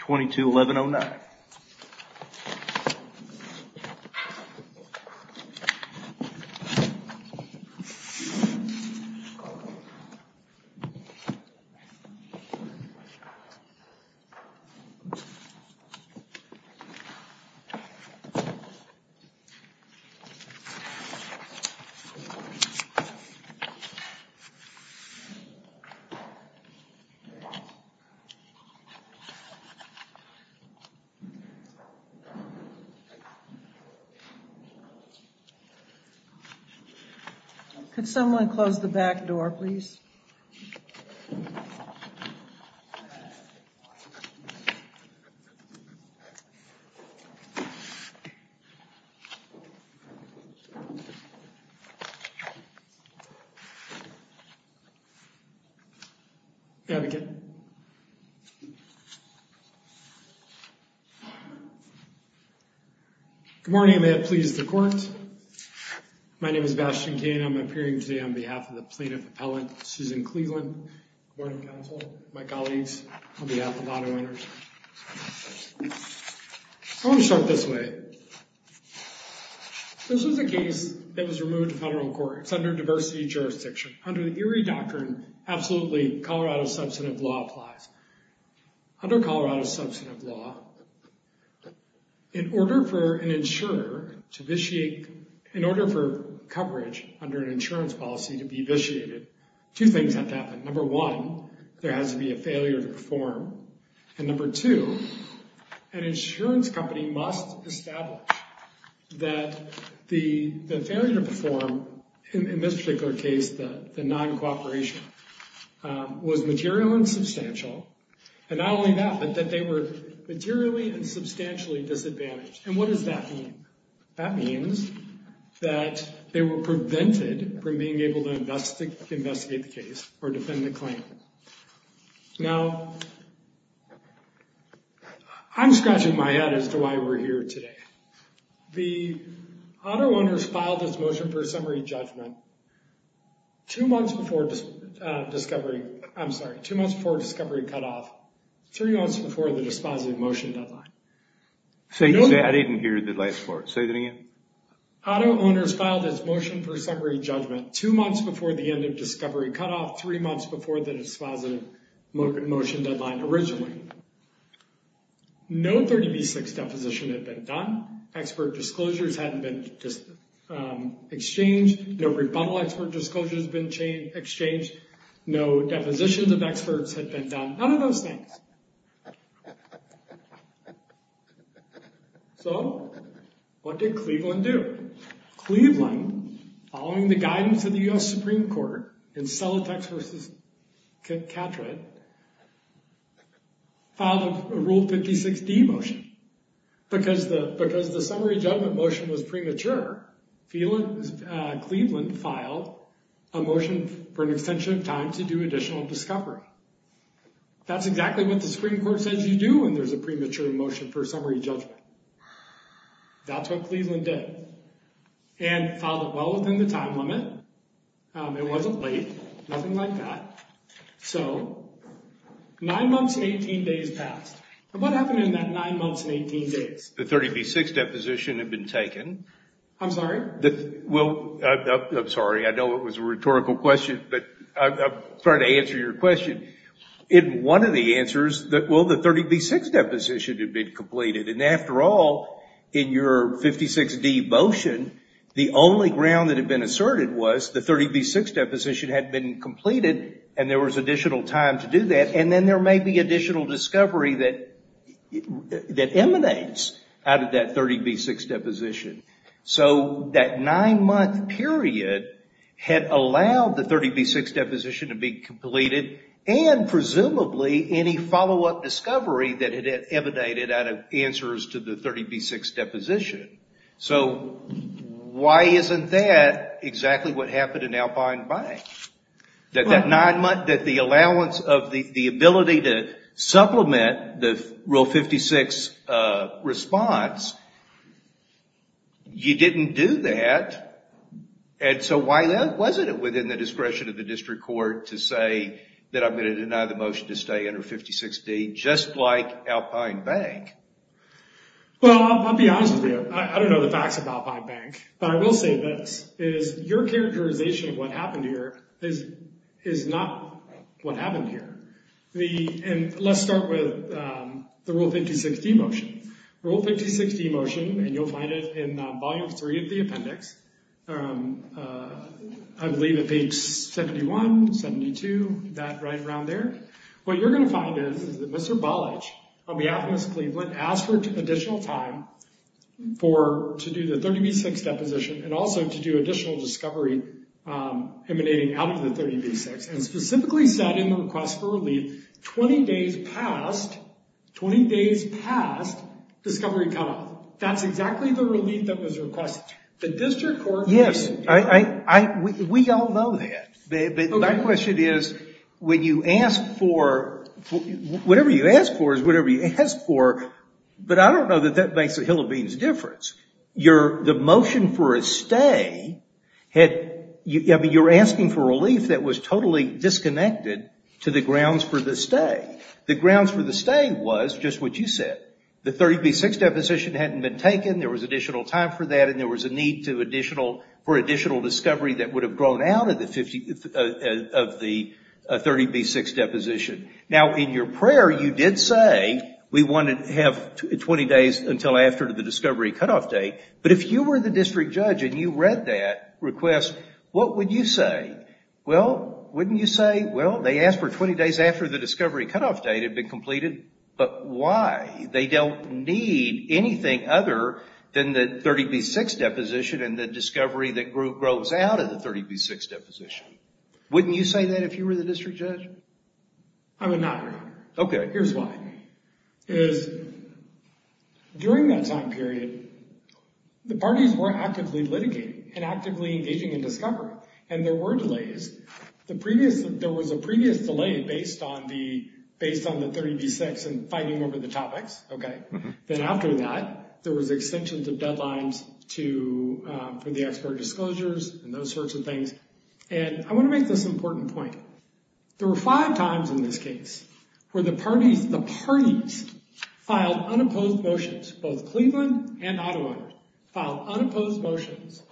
22-1109. Could someone close the back door, please? Good morning. May it please the court. My name is Bastien Kane. I'm appearing today on behalf of the Plaintiff Appellant, Susan Cleveland, Board of Counsel, my colleagues, on behalf of auto-owners. I want to start this way. This was a case that was removed to federal court. It's under diversity jurisdiction. Under the Erie Doctrine, absolutely, Colorado's substantive law applies. Under Colorado's substantive law, in order for an insurer to vitiate, in order for coverage under an insurance policy to be vitiated, two things have to happen. Number one, there has to be a failure to perform. And number two, an insurance company must establish that the failure to perform, in this particular case, the non-cooperation, was material and substantial. And not only that, but that they were materially and substantially disadvantaged. And what does that mean? That means that they were prevented from being able to investigate the case or defend the claim. Now, I'm scratching my head as to why we're here today. The auto-owners filed this motion for a summary judgment two months before discovery, I'm sorry, two months before discovery cutoff, three months before the dispositive motion deadline. I didn't hear the last part. Say that again. Auto-owners filed this motion for a summary judgment two months before the end of discovery cutoff, three months before the dispositive motion deadline originally. No 30B6 deposition had been done. Expert disclosures hadn't been exchanged. No rebuttal expert disclosures had been exchanged. No depositions of experts had been done. None of those things. So, what did Cleveland do? Cleveland, following the guidance of the U.S. Supreme Court in Celotex v. Catrad, filed a Rule 56D motion. Because the summary judgment motion was premature, Cleveland filed a motion for an extension of time to do additional discovery. That's exactly what the Supreme Court says you do when there's a premature motion for a summary judgment. That's what Cleveland did. And filed it well within the time limit. It wasn't late. Nothing like that. So, nine months and 18 days passed. And what happened in that nine months and 18 days? The 30B6 deposition had been taken. I'm sorry? I'm sorry. I know it was a rhetorical question, but I'm trying to answer your question. In one of the answers, well, the 30B6 deposition had been completed. And after all, in your 56D motion, the only ground that had been asserted was the 30B6 deposition had been completed and there was additional time to do that. And then there may be additional discovery that emanates out of that 30B6 deposition. So, that nine-month period had allowed the 30B6 deposition to be completed and presumably any follow-up discovery that had emanated out of answers to the 30B6 deposition. So, why isn't that exactly what happened in Alpine Bank? That the allowance of the ability to supplement the Rule 56 response, you didn't do that. And so, why wasn't it within the discretion of the district court to say that I'm going to deny the motion to stay under 56D, just like Alpine Bank? Well, I'll be honest with you. I don't know the facts of Alpine Bank. But I will say this, is your characterization of what happened here is not what happened here. And let's start with the Rule 56D motion. Rule 56D motion, and you'll find it in volume three of the appendix, I believe at page 71, 72, that right around there. What you're going to find is that Mr. Balich, on behalf of Miss Cleveland, asked for additional time to do the 30B6 deposition and also to do additional discovery emanating out of the 30B6. And specifically said in the request for relief, 20 days past discovery cutoff. That's exactly the relief that was requested. Yes, we all know that. But my question is, when you ask for, whatever you ask for is whatever you ask for. But I don't know that that makes a hill of beans difference. The motion for a stay, you're asking for relief that was totally disconnected to the grounds for the stay. The grounds for the stay was just what you said. The 30B6 deposition hadn't been taken. There was additional time for that, and there was a need for additional discovery that would have grown out of the 30B6 deposition. Now, in your prayer, you did say, we want to have 20 days until after the discovery cutoff date. But if you were the district judge and you read that request, what would you say? Well, wouldn't you say, well, they asked for 20 days after the discovery cutoff date had been completed, but why? They don't need anything other than the 30B6 deposition and the discovery that grows out of the 30B6 deposition. Wouldn't you say that if you were the district judge? I would not agree. Okay. Here's why. During that time period, the parties were actively litigating and actively engaging in discovery, and there were delays. There was a previous delay based on the 30B6 and fighting over the topics. Then after that, there was extensions of deadlines for the expert disclosures and those sorts of things. And I want to make this important point. There were five times in this case where the parties filed unopposed motions. Both Cleveland and Ottawa filed unopposed motions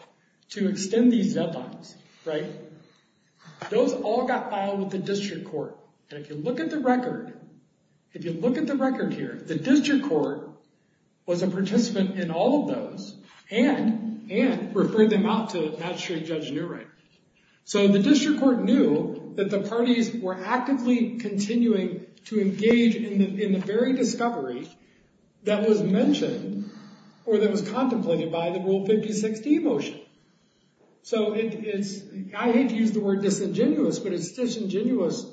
to extend these deadlines, right? Those all got filed with the district court. And if you look at the record, if you look at the record here, the district court was a participant in all of those and referred them out to Magistrate Judge Newright. So the district court knew that the parties were actively continuing to engage in the very discovery that was mentioned or that was contemplated by the Rule 56D motion. So I hate to use the word disingenuous, but it's disingenuous.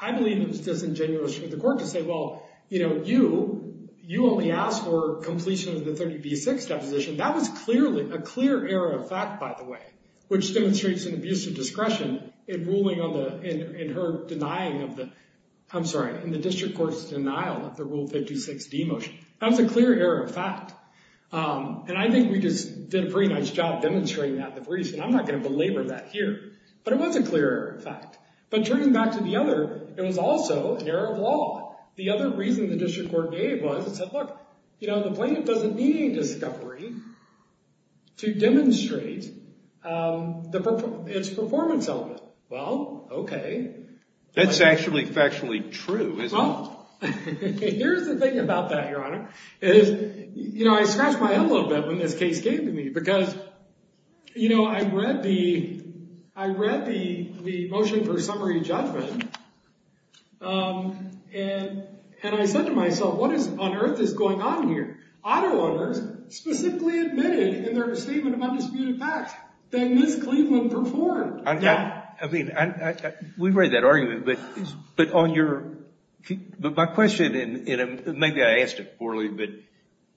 I believe it was disingenuous for the court to say, well, you only asked for completion of the 30B6 deposition. That was clearly a clear error of fact, by the way, which demonstrates an abuse of discretion in ruling on the, in her denying of the, I'm sorry, in the district court's denial of the Rule 56D motion. That was a clear error of fact. And I think we just did a pretty nice job demonstrating that in the briefs, and I'm not going to belabor that here. But it was a clear error of fact. But turning back to the other, it was also an error of law. The other reason the district court gave was it said, look, you know, the plaintiff doesn't need any discovery to demonstrate its performance element. Well, okay. That's actually factually true, isn't it? Well, here's the thing about that, Your Honor, is, you know, I scratched my head a little bit when this case came to me. Because, you know, I read the, I read the motion for summary judgment, and I said to myself, what on earth is going on here? Auto owners specifically admitted in their statement of undisputed facts that Ms. Cleveland performed that. Now, I mean, we've read that argument, but on your, but my question, and maybe I asked it poorly, but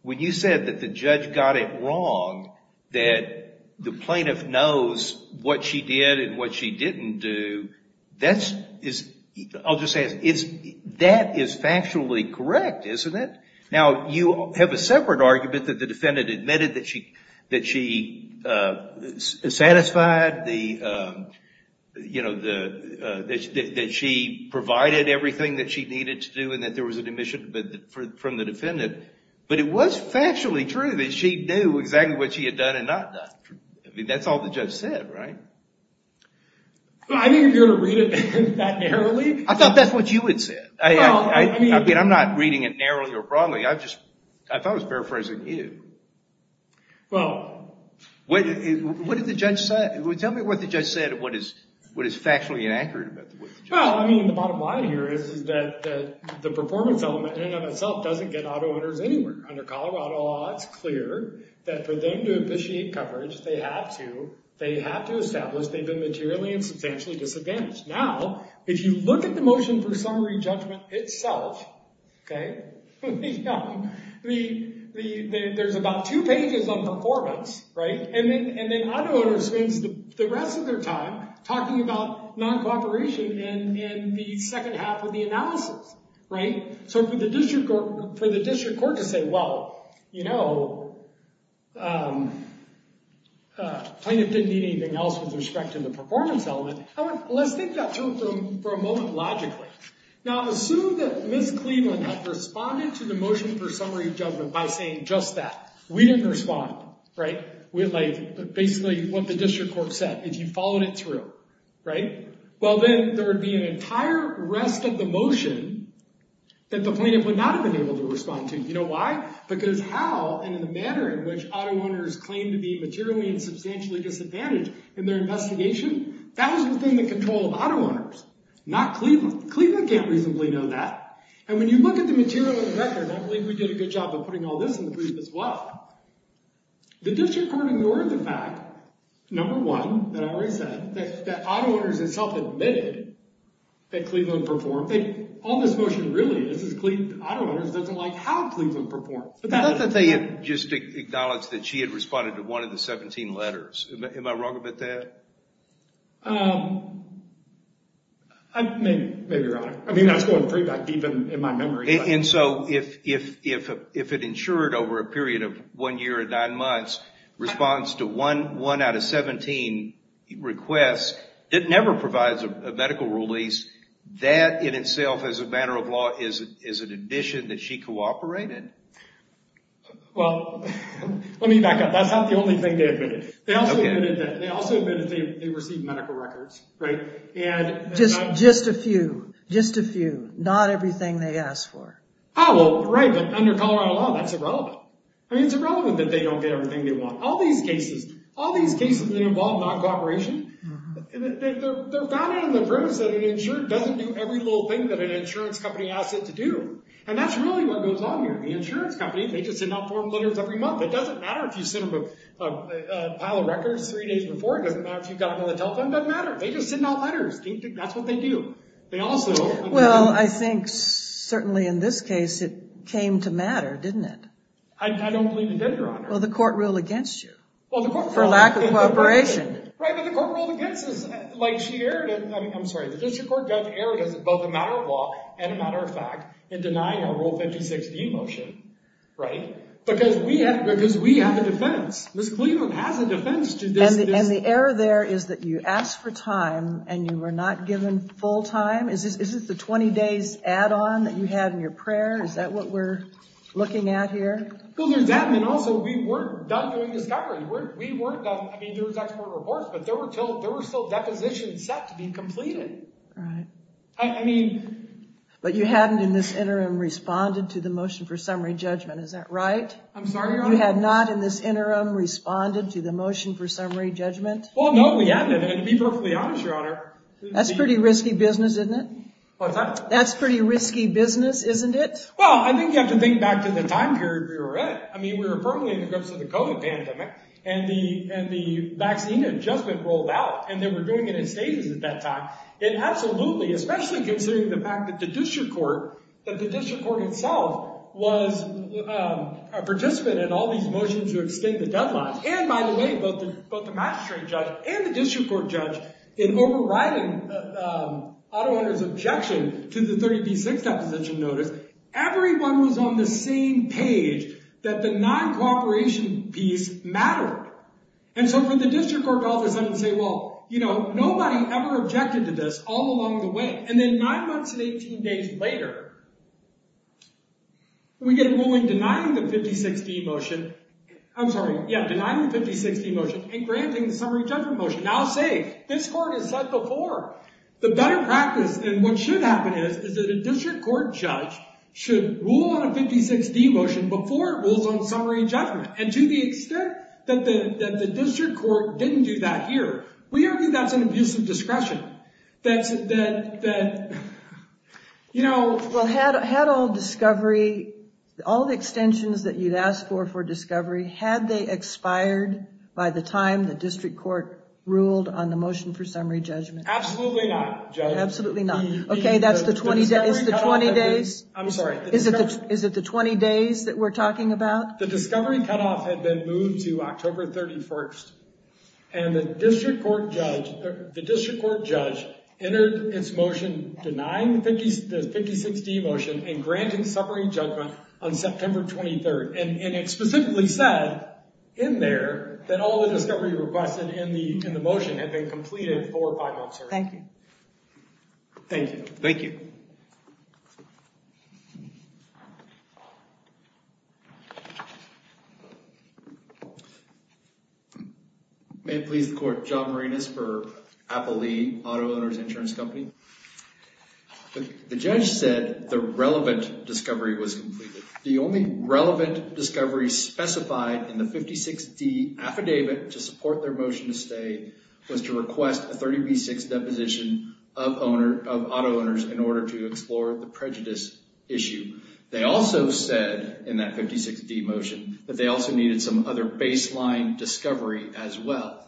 when you said that the judge got it wrong, that the plaintiff knows what she did and what she didn't do, that's, I'll just say it, that is factually correct, isn't it? Now, you have a separate argument that the defendant admitted that she, that she satisfied the, you know, the, that she provided everything that she needed to do and that there was an admission from the defendant. But it was factually true that she knew exactly what she had done and not done. I mean, that's all the judge said, right? I mean, you're going to read it that narrowly? I thought that's what you had said. I mean, I'm not reading it narrowly or broadly. I just, I thought I was paraphrasing you. Well. What did the judge say? Tell me what the judge said, what is factually inaccurate about what the judge said. Well, I mean, the bottom line here is that the performance element in and of itself doesn't get auto owners anywhere. Under Colorado law, it's clear that for them to officiate coverage, they have to, they have to establish they've been materially and substantially disadvantaged. Now, if you look at the motion for summary judgment itself, okay, yeah, the, the, there's about two pages on performance, right? And then, and then auto owners spend the rest of their time talking about non-cooperation in, in the second half of the analysis, right? So for the district court, for the district court to say, well, you know, plaintiff didn't need anything else with respect to the performance element. Let's think that through for a moment logically. Now, assume that Ms. Cleveland had responded to the motion for summary judgment by saying just that. We didn't respond, right? We, like, basically what the district court said is you followed it through, right? Well, then there would be an entire rest of the motion that the plaintiff would not have been able to respond to. You know why? Because how, and in the manner in which auto owners claim to be materially and substantially disadvantaged in their investigation, that is within the control of auto owners, not Cleveland. Cleveland can't reasonably know that. And when you look at the material of the record, I believe we did a good job of putting all this in the brief as well. The district court ignored the fact, number one, that I already said, that, that auto owners themselves admitted that Cleveland performed. All this motion really is, is Cleveland auto owners doesn't like how Cleveland performed. Not that they had just acknowledged that she had responded to one of the 17 letters. Am I wrong about that? Maybe, maybe you're right. I mean, I was going pretty back deep in my memory. And so if, if, if, if it ensured over a period of one year or nine months response to one, one out of 17 requests, it never provides a medical release. That in itself as a matter of law is, is an addition that she cooperated. Well, let me back up. That's not the only thing they admitted. They also admitted that they received medical records, right? Just, just a few, just a few, not everything they asked for. Oh, well, right. But under Colorado law, that's irrelevant. I mean, it's irrelevant that they don't get everything they want. All these cases, all these cases that involve non-cooperation, they're founded on the premise that an insurer doesn't do every little thing that an insurance company asks it to do. And that's really what goes on here. The insurance company, they just did not form letters every month. It doesn't matter if you sent them a pile of records three days before. It doesn't matter if you got them on the telephone. It doesn't matter. They just sent out letters. That's what they do. They also. Well, I think certainly in this case, it came to matter, didn't it? I don't believe it did, Your Honor. Well, the court ruled against you for lack of cooperation. Right, but the court ruled against us. Like, she erred in, I'm sorry, the district court just erred as both a matter of law and a matter of fact in denying our Rule 5016 motion, right? Because we have, because we have a defense. Ms. Cleveland has a defense to this. And the error there is that you asked for time and you were not given full time. Is this the 20 days add-on that you had in your prayer? Is that what we're looking at here? Well, there's that. And also, we weren't done doing discovery. We weren't done. I mean, there was expert reports, but there were still depositions set to be completed. Right. I mean. But you hadn't in this interim responded to the motion for summary judgment. Is that right? I'm sorry, Your Honor. You had not in this interim responded to the motion for summary judgment? Well, no, we hadn't. And to be perfectly honest, Your Honor. That's pretty risky business, isn't it? What's that? That's pretty risky business, isn't it? Well, I think you have to think back to the time period we were in. I mean, we were permanently in the grips of the COVID pandemic. And the vaccine adjustment rolled out. And they were doing it in stages at that time. And absolutely, especially considering the fact that the district court, that the district court itself, was a participant in all these motions to extend the deadline. And by the way, both the magistrate judge and the district court judge, in overriding Otto Hunter's objection to the 30B6 deposition notice, everyone was on the same page that the non-cooperation piece mattered. And so for the district court to all of a sudden say, well, you know, nobody ever objected to this all along the way. And then nine months and 18 days later, we get a ruling denying the 56D motion. I'm sorry. Yeah, denying the 56D motion and granting the summary judgment motion. Now say, this court has said before, the better practice and what should happen is, is that a district court judge should rule on a 56D motion before it rules on summary judgment. And to the extent that the district court didn't do that here, we argue that's an abuse of discretion. That's, that, that, you know. Well, had all discovery, all the extensions that you'd asked for for discovery, had they expired by the time the district court ruled on the motion for summary judgment? Absolutely not, Judge. Absolutely not. Okay, that's the 20 days, the 20 days. I'm sorry. Is it the 20 days that we're talking about? The discovery cutoff had been moved to October 31st. And the district court judge, the district court judge entered its motion denying the 56D motion and granting summary judgment on September 23rd. And it specifically said in there that all the discovery requested in the motion had been completed for five months. Thank you. Thank you. Thank you. May it please the court. John Marinas for Applee Auto Owners Insurance Company. The judge said the relevant discovery was completed. The only relevant discovery specified in the 56D affidavit to support their motion to stay was to request a 30B6 deposition of owner, of auto owners in order to explore the prejudice issue. They also said in that 56D motion that they also needed some other baseline discovery as well.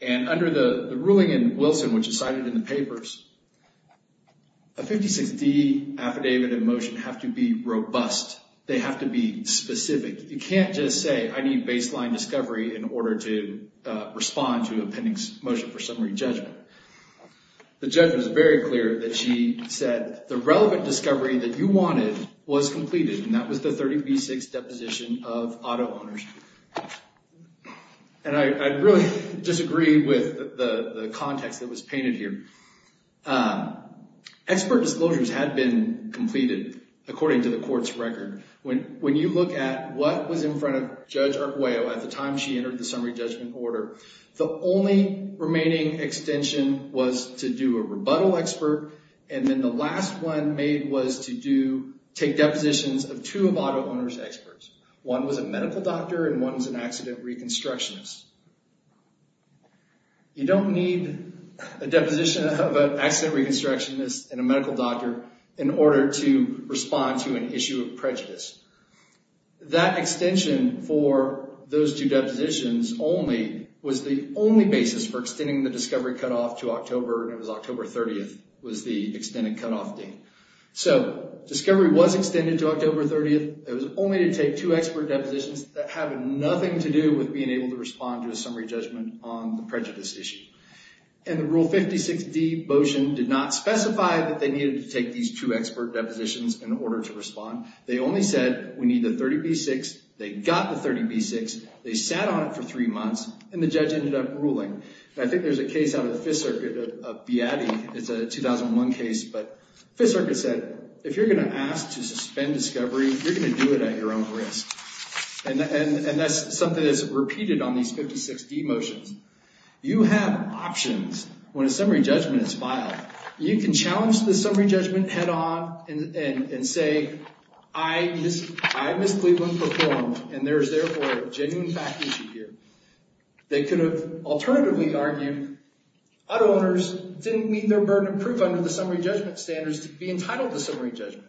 And under the ruling in Wilson, which is cited in the papers, a 56D affidavit and motion have to be robust. They have to be specific. You can't just say I need baseline discovery in order to respond to a pending motion for summary judgment. The judge was very clear that she said the relevant discovery that you wanted was completed, and that was the 30B6 deposition of auto owners. And I really disagree with the context that was painted here. Expert disclosures had been completed according to the court's record. When you look at what was in front of Judge Arguello at the time she entered the summary judgment order, the only remaining extension was to do a rebuttal expert, and then the last one made was to take depositions of two of auto owners' experts. One was a medical doctor, and one was an accident reconstructionist. You don't need a deposition of an accident reconstructionist and a medical doctor in order to respond to an issue of prejudice. That extension for those two depositions only was the only basis for extending the discovery cutoff to October, and it was October 30th was the extended cutoff date. So discovery was extended to October 30th. It was only to take two expert depositions that have nothing to do with being able to respond to a summary judgment on the prejudice issue. And the Rule 56D motion did not specify that they needed to take these two expert depositions in order to respond. They only said we need the 30B-6. They got the 30B-6. They sat on it for three months, and the judge ended up ruling. And I think there's a case out of the Fifth Circuit, a BIATI. It's a 2001 case, but Fifth Circuit said if you're going to ask to suspend discovery, you're going to do it at your own risk. And that's something that's repeated on these 56D motions. You have options when a summary judgment is filed. You can challenge the summary judgment head on and say, I, Ms. Cleveland, performed, and there is therefore a genuine fact issue here. They could have alternatively argued auto owners didn't meet their burden of proof under the summary judgment standards to be entitled to summary judgment.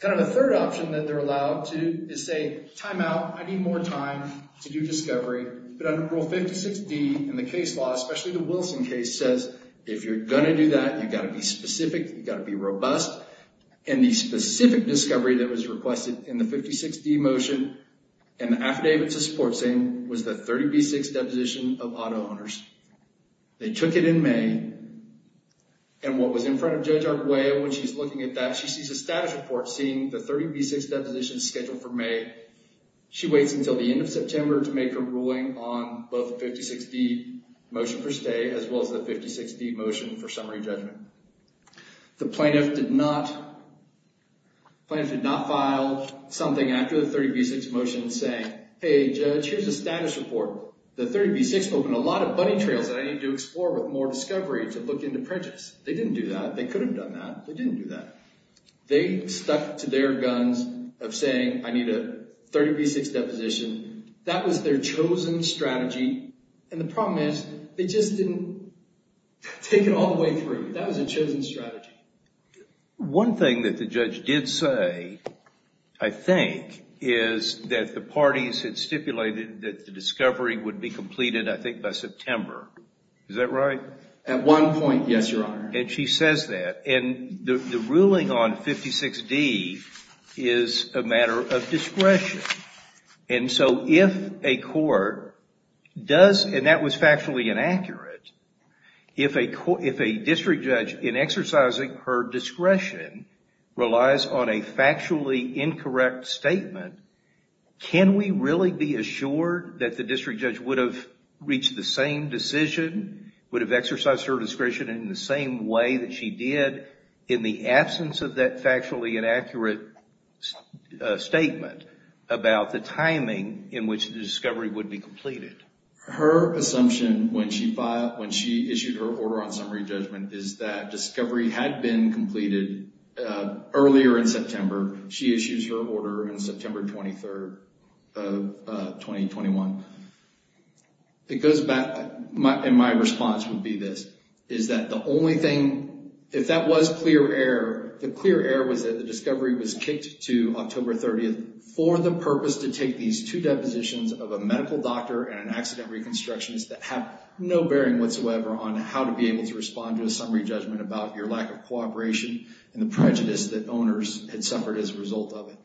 Kind of a third option that they're allowed to do is say, time out. I need more time to do discovery. But under Rule 56D in the case law, especially the Wilson case, says if you're going to do that, you've got to be specific. You've got to be robust. And the specific discovery that was requested in the 56D motion and the affidavit to support saying was the 30B-6 deposition of auto owners. They took it in May. And what was in front of Judge Arguello when she's looking at that, she sees a status report saying the 30B-6 deposition is scheduled for May. She waits until the end of September to make her ruling on both the 56D motion for stay as well as the 56D motion for summary judgment. The plaintiff did not file something after the 30B-6 motion saying, hey, Judge, here's a status report. The 30B-6 opened a lot of bunny trails that I need to explore with more discovery to look into prejudice. They didn't do that. They could have done that. They didn't do that. They stuck to their guns of saying, I need a 30B-6 deposition. That was their chosen strategy. And the problem is they just didn't take it all the way through. That was their chosen strategy. One thing that the judge did say, I think, is that the parties had stipulated that the discovery would be completed, I think, by September. Is that right? At one point, yes, Your Honor. And she says that. And the ruling on 56D is a matter of discretion. And so if a court does, and that was factually inaccurate, if a district judge in exercising her discretion relies on a factually incorrect statement, can we really be assured that the district judge would have reached the same decision, would have exercised her discretion in the same way that she did in the absence of that factually inaccurate statement about the timing in which the discovery would be completed? Her assumption when she issued her order on summary judgment is that discovery had been completed earlier in September. She issues her order on September 23rd of 2021. It goes back, and my response would be this, is that the only thing, if that was clear error, the clear error was that the discovery was kicked to October 30th for the purpose to take these two depositions of a medical doctor and an accident reconstructionist that have no bearing whatsoever on how to be able to respond to a summary judgment about your lack of cooperation and the prejudice that owners had suffered as a result of it.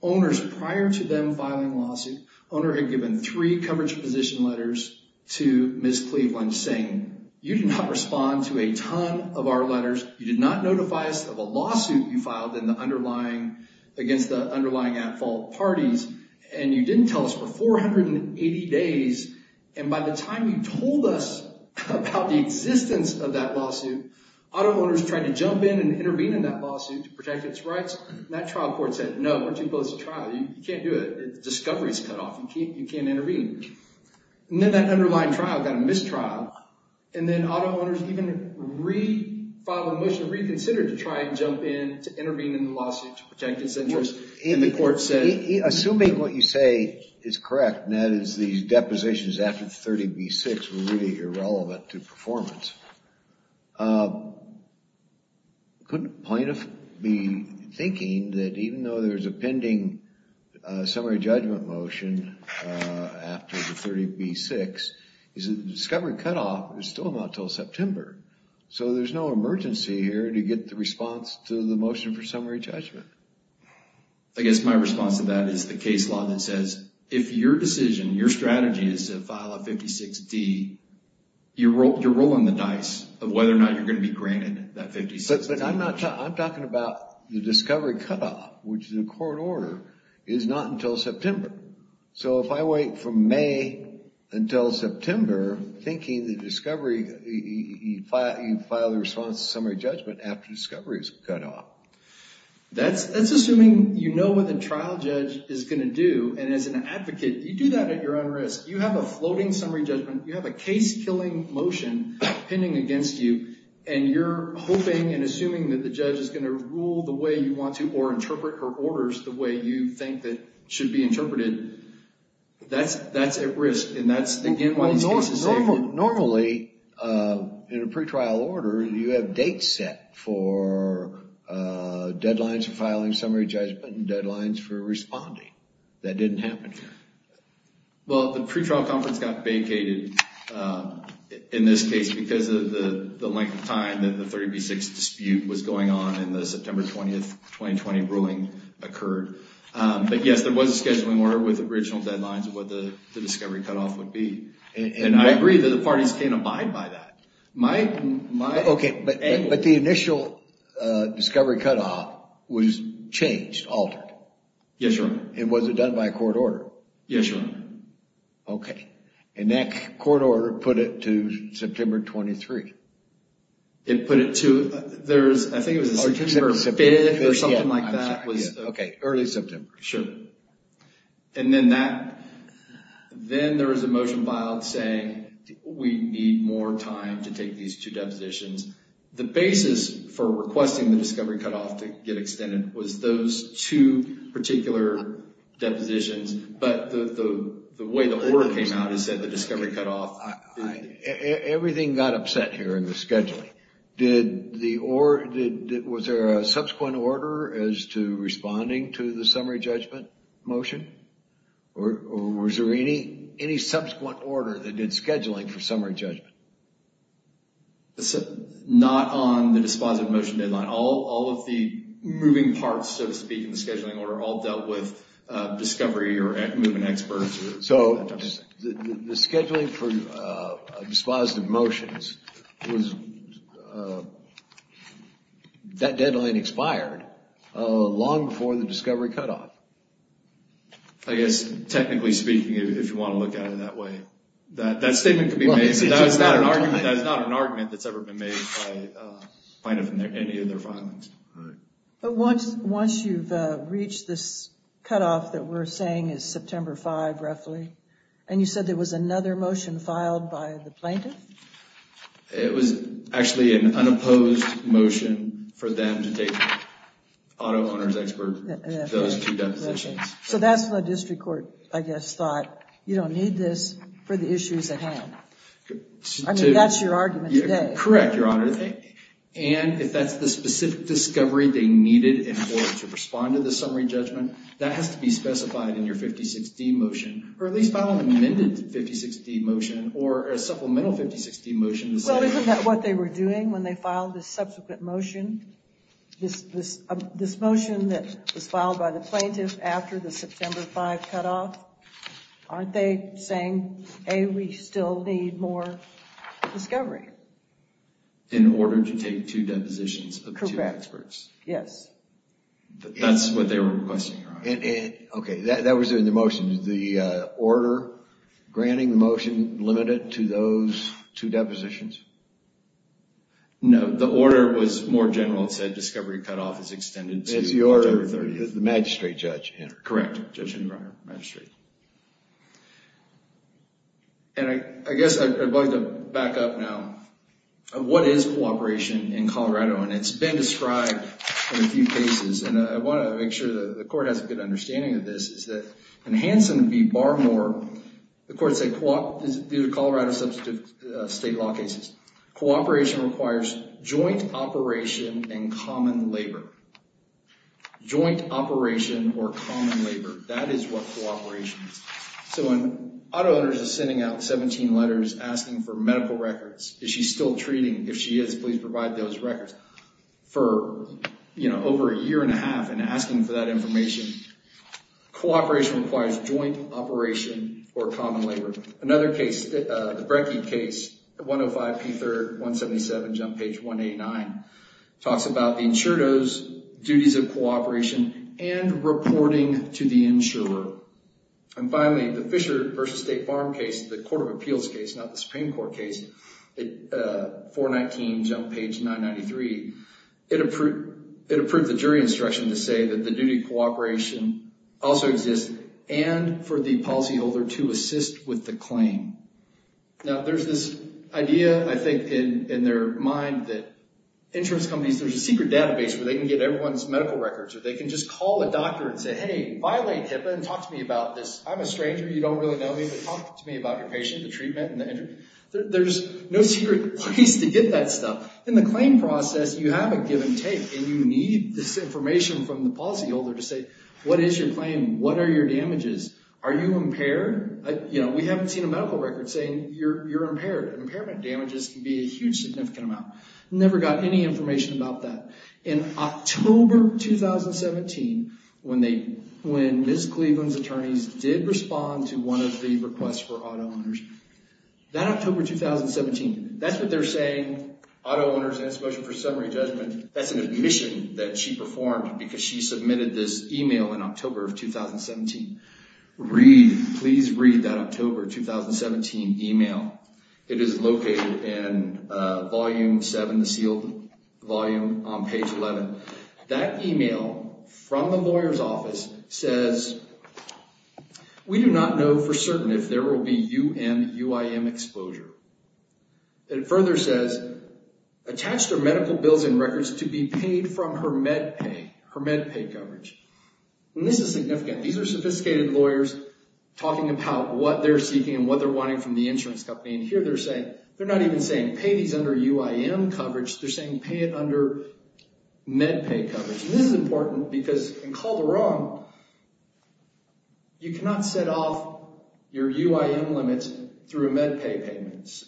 Owners, prior to them filing a lawsuit, owner had given three coverage position letters to Ms. Cleveland saying, you did not respond to a ton of our letters, you did not notify us of a lawsuit you filed against the underlying at-fault parties, and you didn't tell us for 480 days, and by the time you told us about the existence of that lawsuit, auto owners tried to jump in and intervene in that lawsuit to protect its rights, and that trial court said, no, we're too close to trial, you can't do it, the discovery's cut off, you can't intervene. And then that underlying trial got a mistrial, and then auto owners even filed a motion to reconsider to try and jump in to intervene in the lawsuit to protect its interests. Assuming what you say is correct, and that is these depositions after the 30B6 were really irrelevant to performance, couldn't a plaintiff be thinking that even though there's a pending summary judgment motion after the 30B6, the discovery cutoff is still not until September, so there's no emergency here to get the response to the motion for summary judgment. I guess my response to that is the case law that says, if your decision, your strategy is to file a 56D, you're rolling the dice of whether or not you're going to be granted that 56D. I'm talking about the discovery cutoff, which is a court order, is not until September. So if I wait from May until September, thinking the discovery, you file the response to summary judgment after discovery is cut off. That's assuming you know what the trial judge is going to do, and as an advocate, you do that at your own risk. You have a floating summary judgment, you have a case-killing motion pending against you, and you're hoping and assuming that the judge is going to rule the way you want to, or interpret her orders the way you think that should be interpreted. That's at risk, and that's, again, why this case is safe. Normally, in a pretrial order, you have dates set for deadlines for filing summary judgment and deadlines for responding. That didn't happen here. Well, the pretrial conference got vacated in this case because of the length of time that the 30B6 dispute was going on and the September 20th, 2020 ruling occurred. But yes, there was a scheduling order with original deadlines of what the discovery cutoff would be, and I agree that the parties can abide by that. Okay, but the initial discovery cutoff was changed, altered. Yes, Your Honor. And was it done by a court order? Yes, Your Honor. Okay. And that court order put it to September 23rd. It put it to, I think it was September 5th or something like that. Okay, early September. Sure. And then there was a motion filed saying we need more time to take these two depositions. The basis for requesting the discovery cutoff to get extended was those two particular depositions, but the way the order came out is that the discovery cutoff. Everything got upset here in the scheduling. Was there a subsequent order as to responding to the summary judgment motion? Or was there any subsequent order that did scheduling for summary judgment? Not on the dispositive motion deadline. All of the moving parts, so to speak, in the scheduling order all dealt with discovery or moving experts. So the scheduling for dispositive motions, that deadline expired long before the discovery cutoff. I guess technically speaking, if you want to look at it that way. That statement could be made, but that is not an argument that's ever been made by plaintiff in any of their filings. All right. But once you've reached this cutoff that we're saying is September 5, roughly, and you said there was another motion filed by the plaintiff? It was actually an unopposed motion for them to take auto owner's expert, those two depositions. So that's what the district court, I guess, thought. You don't need this for the issues at hand. I mean, that's your argument today. Correct, Your Honor. And if that's the specific discovery they needed in order to respond to the summary judgment, that has to be specified in your 56D motion. Or at least file an amended 56D motion or a supplemental 56D motion. Well, isn't that what they were doing when they filed the subsequent motion? This motion that was filed by the plaintiff after the September 5 cutoff, aren't they saying, A, we still need more discovery? In order to take two depositions of two experts. Yes. That's what they were requesting, Your Honor. Okay. That was in the motion. Is the order granting the motion limited to those two depositions? No. The order was more general. It said discovery cutoff is extended to October 30th. It's the order that the magistrate judge entered. Correct, Judge Henry Breyer, magistrate. And I guess I'd like to back up now. What is cooperation in Colorado? And it's been described in a few cases. And I want to make sure the court has a good understanding of this. In Hanson v. Barmore, the court said, due to Colorado substantive state law cases, cooperation requires joint operation and common labor. Joint operation or common labor. That is what cooperation is. So when auto owners are sending out 17 letters asking for medical records, is she still treating? If she is, please provide those records. For over a year and a half and asking for that information, cooperation requires joint operation or common labor. Another case, the Brekke case, 105 P. 3rd, 177, jump page 189, talks about the insured owes, duties of cooperation, and reporting to the insurer. And finally, the Fisher v. State Farm case, the Court of Appeals case, not the Supreme Court case, 419, jump page 993, it approved the jury instruction to say that the duty of cooperation also exists and for the policyholder to assist with the claim. Now, there's this idea, I think, in their mind that insurance companies, there's a secret database where they can get everyone's medical records or they can just call a doctor and say, hey, violate HIPAA and talk to me about this. I'm a stranger, you don't really know me, but talk to me about your patient, the treatment, and the injury. There's no secret place to get that stuff. In the claim process, you have a give and take, and you need this information from the policyholder to say, what is your claim, what are your damages, are you impaired? We haven't seen a medical record saying you're impaired. Impairment damages can be a huge significant amount. Never got any information about that. In October 2017, when Ms. Cleveland's attorneys did respond to one of the requests for auto owners, that October 2017, that's what they're saying, auto owners, and especially for summary judgment, that's an admission that she performed because she submitted this email in October of 2017. Read, please read that October 2017 email. It is located in Volume 7, the sealed volume on page 11. That email from the lawyer's office says, We do not know for certain if there will be UM UIM exposure. It further says, Attached are medical bills and records to be paid from her med pay, her med pay coverage. This is significant. These are sophisticated lawyers talking about what they're seeking and what they're wanting from the insurance company. Here they're saying, they're not even saying pay these under UIM coverage, they're saying pay it under med pay coverage. This is important because in Calderon, you cannot set off your UIM limits through med pay payments.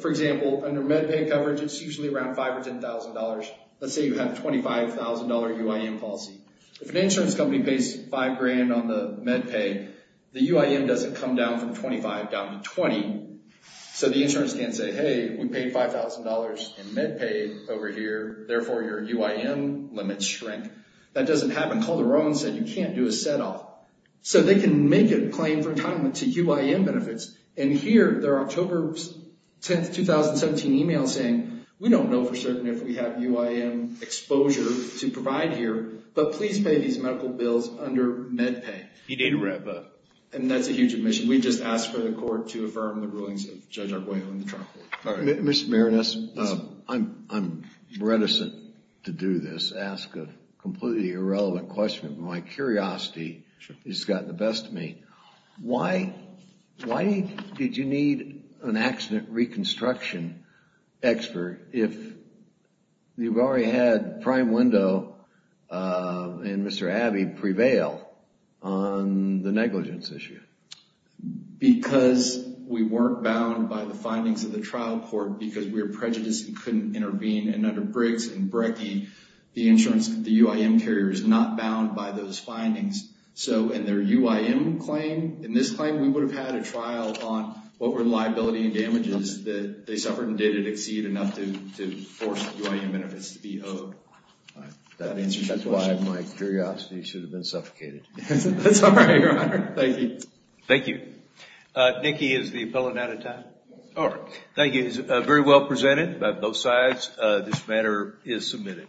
For example, under med pay coverage, it's usually around $5,000 or $10,000. Let's say you have a $25,000 UIM policy. If an insurance company pays five grand on the med pay, the UIM doesn't come down from 25 down to 20. The insurance can't say, hey, we paid $5,000 in med pay over here, therefore your UIM limits shrink. That doesn't happen. Calderon said you can't do a set off. So they can make a claim for entitlement to UIM benefits, and here their October 10, 2017 email saying, we don't know for certain if we have UIM exposure to provide here, but please pay these medical bills under med pay. And that's a huge omission. We just asked for the court to affirm the rulings of Judge Arguello and the trial court. Mr. Marinus, I'm reticent to do this, ask a completely irrelevant question, but my curiosity has gotten the best of me. Why did you need an accident reconstruction expert if you've already had Prime Window and Mr. Abbey prevail on the negligence issue? Because we weren't bound by the findings of the trial court, because we were prejudiced and couldn't intervene, and under Briggs and Brecke, the insurance, the UIM carrier is not bound by those findings. So in their UIM claim, in this claim, we would have had a trial on what were the liability and damages that they suffered and did it exceed enough to force the UIM benefits to be owed. That's why my curiosity should have been suffocated. That's all right, Your Honor. Thank you. Thank you. Nicky is the appellant out of time. All right. Thank you. It was very well presented by both sides. This matter is submitted.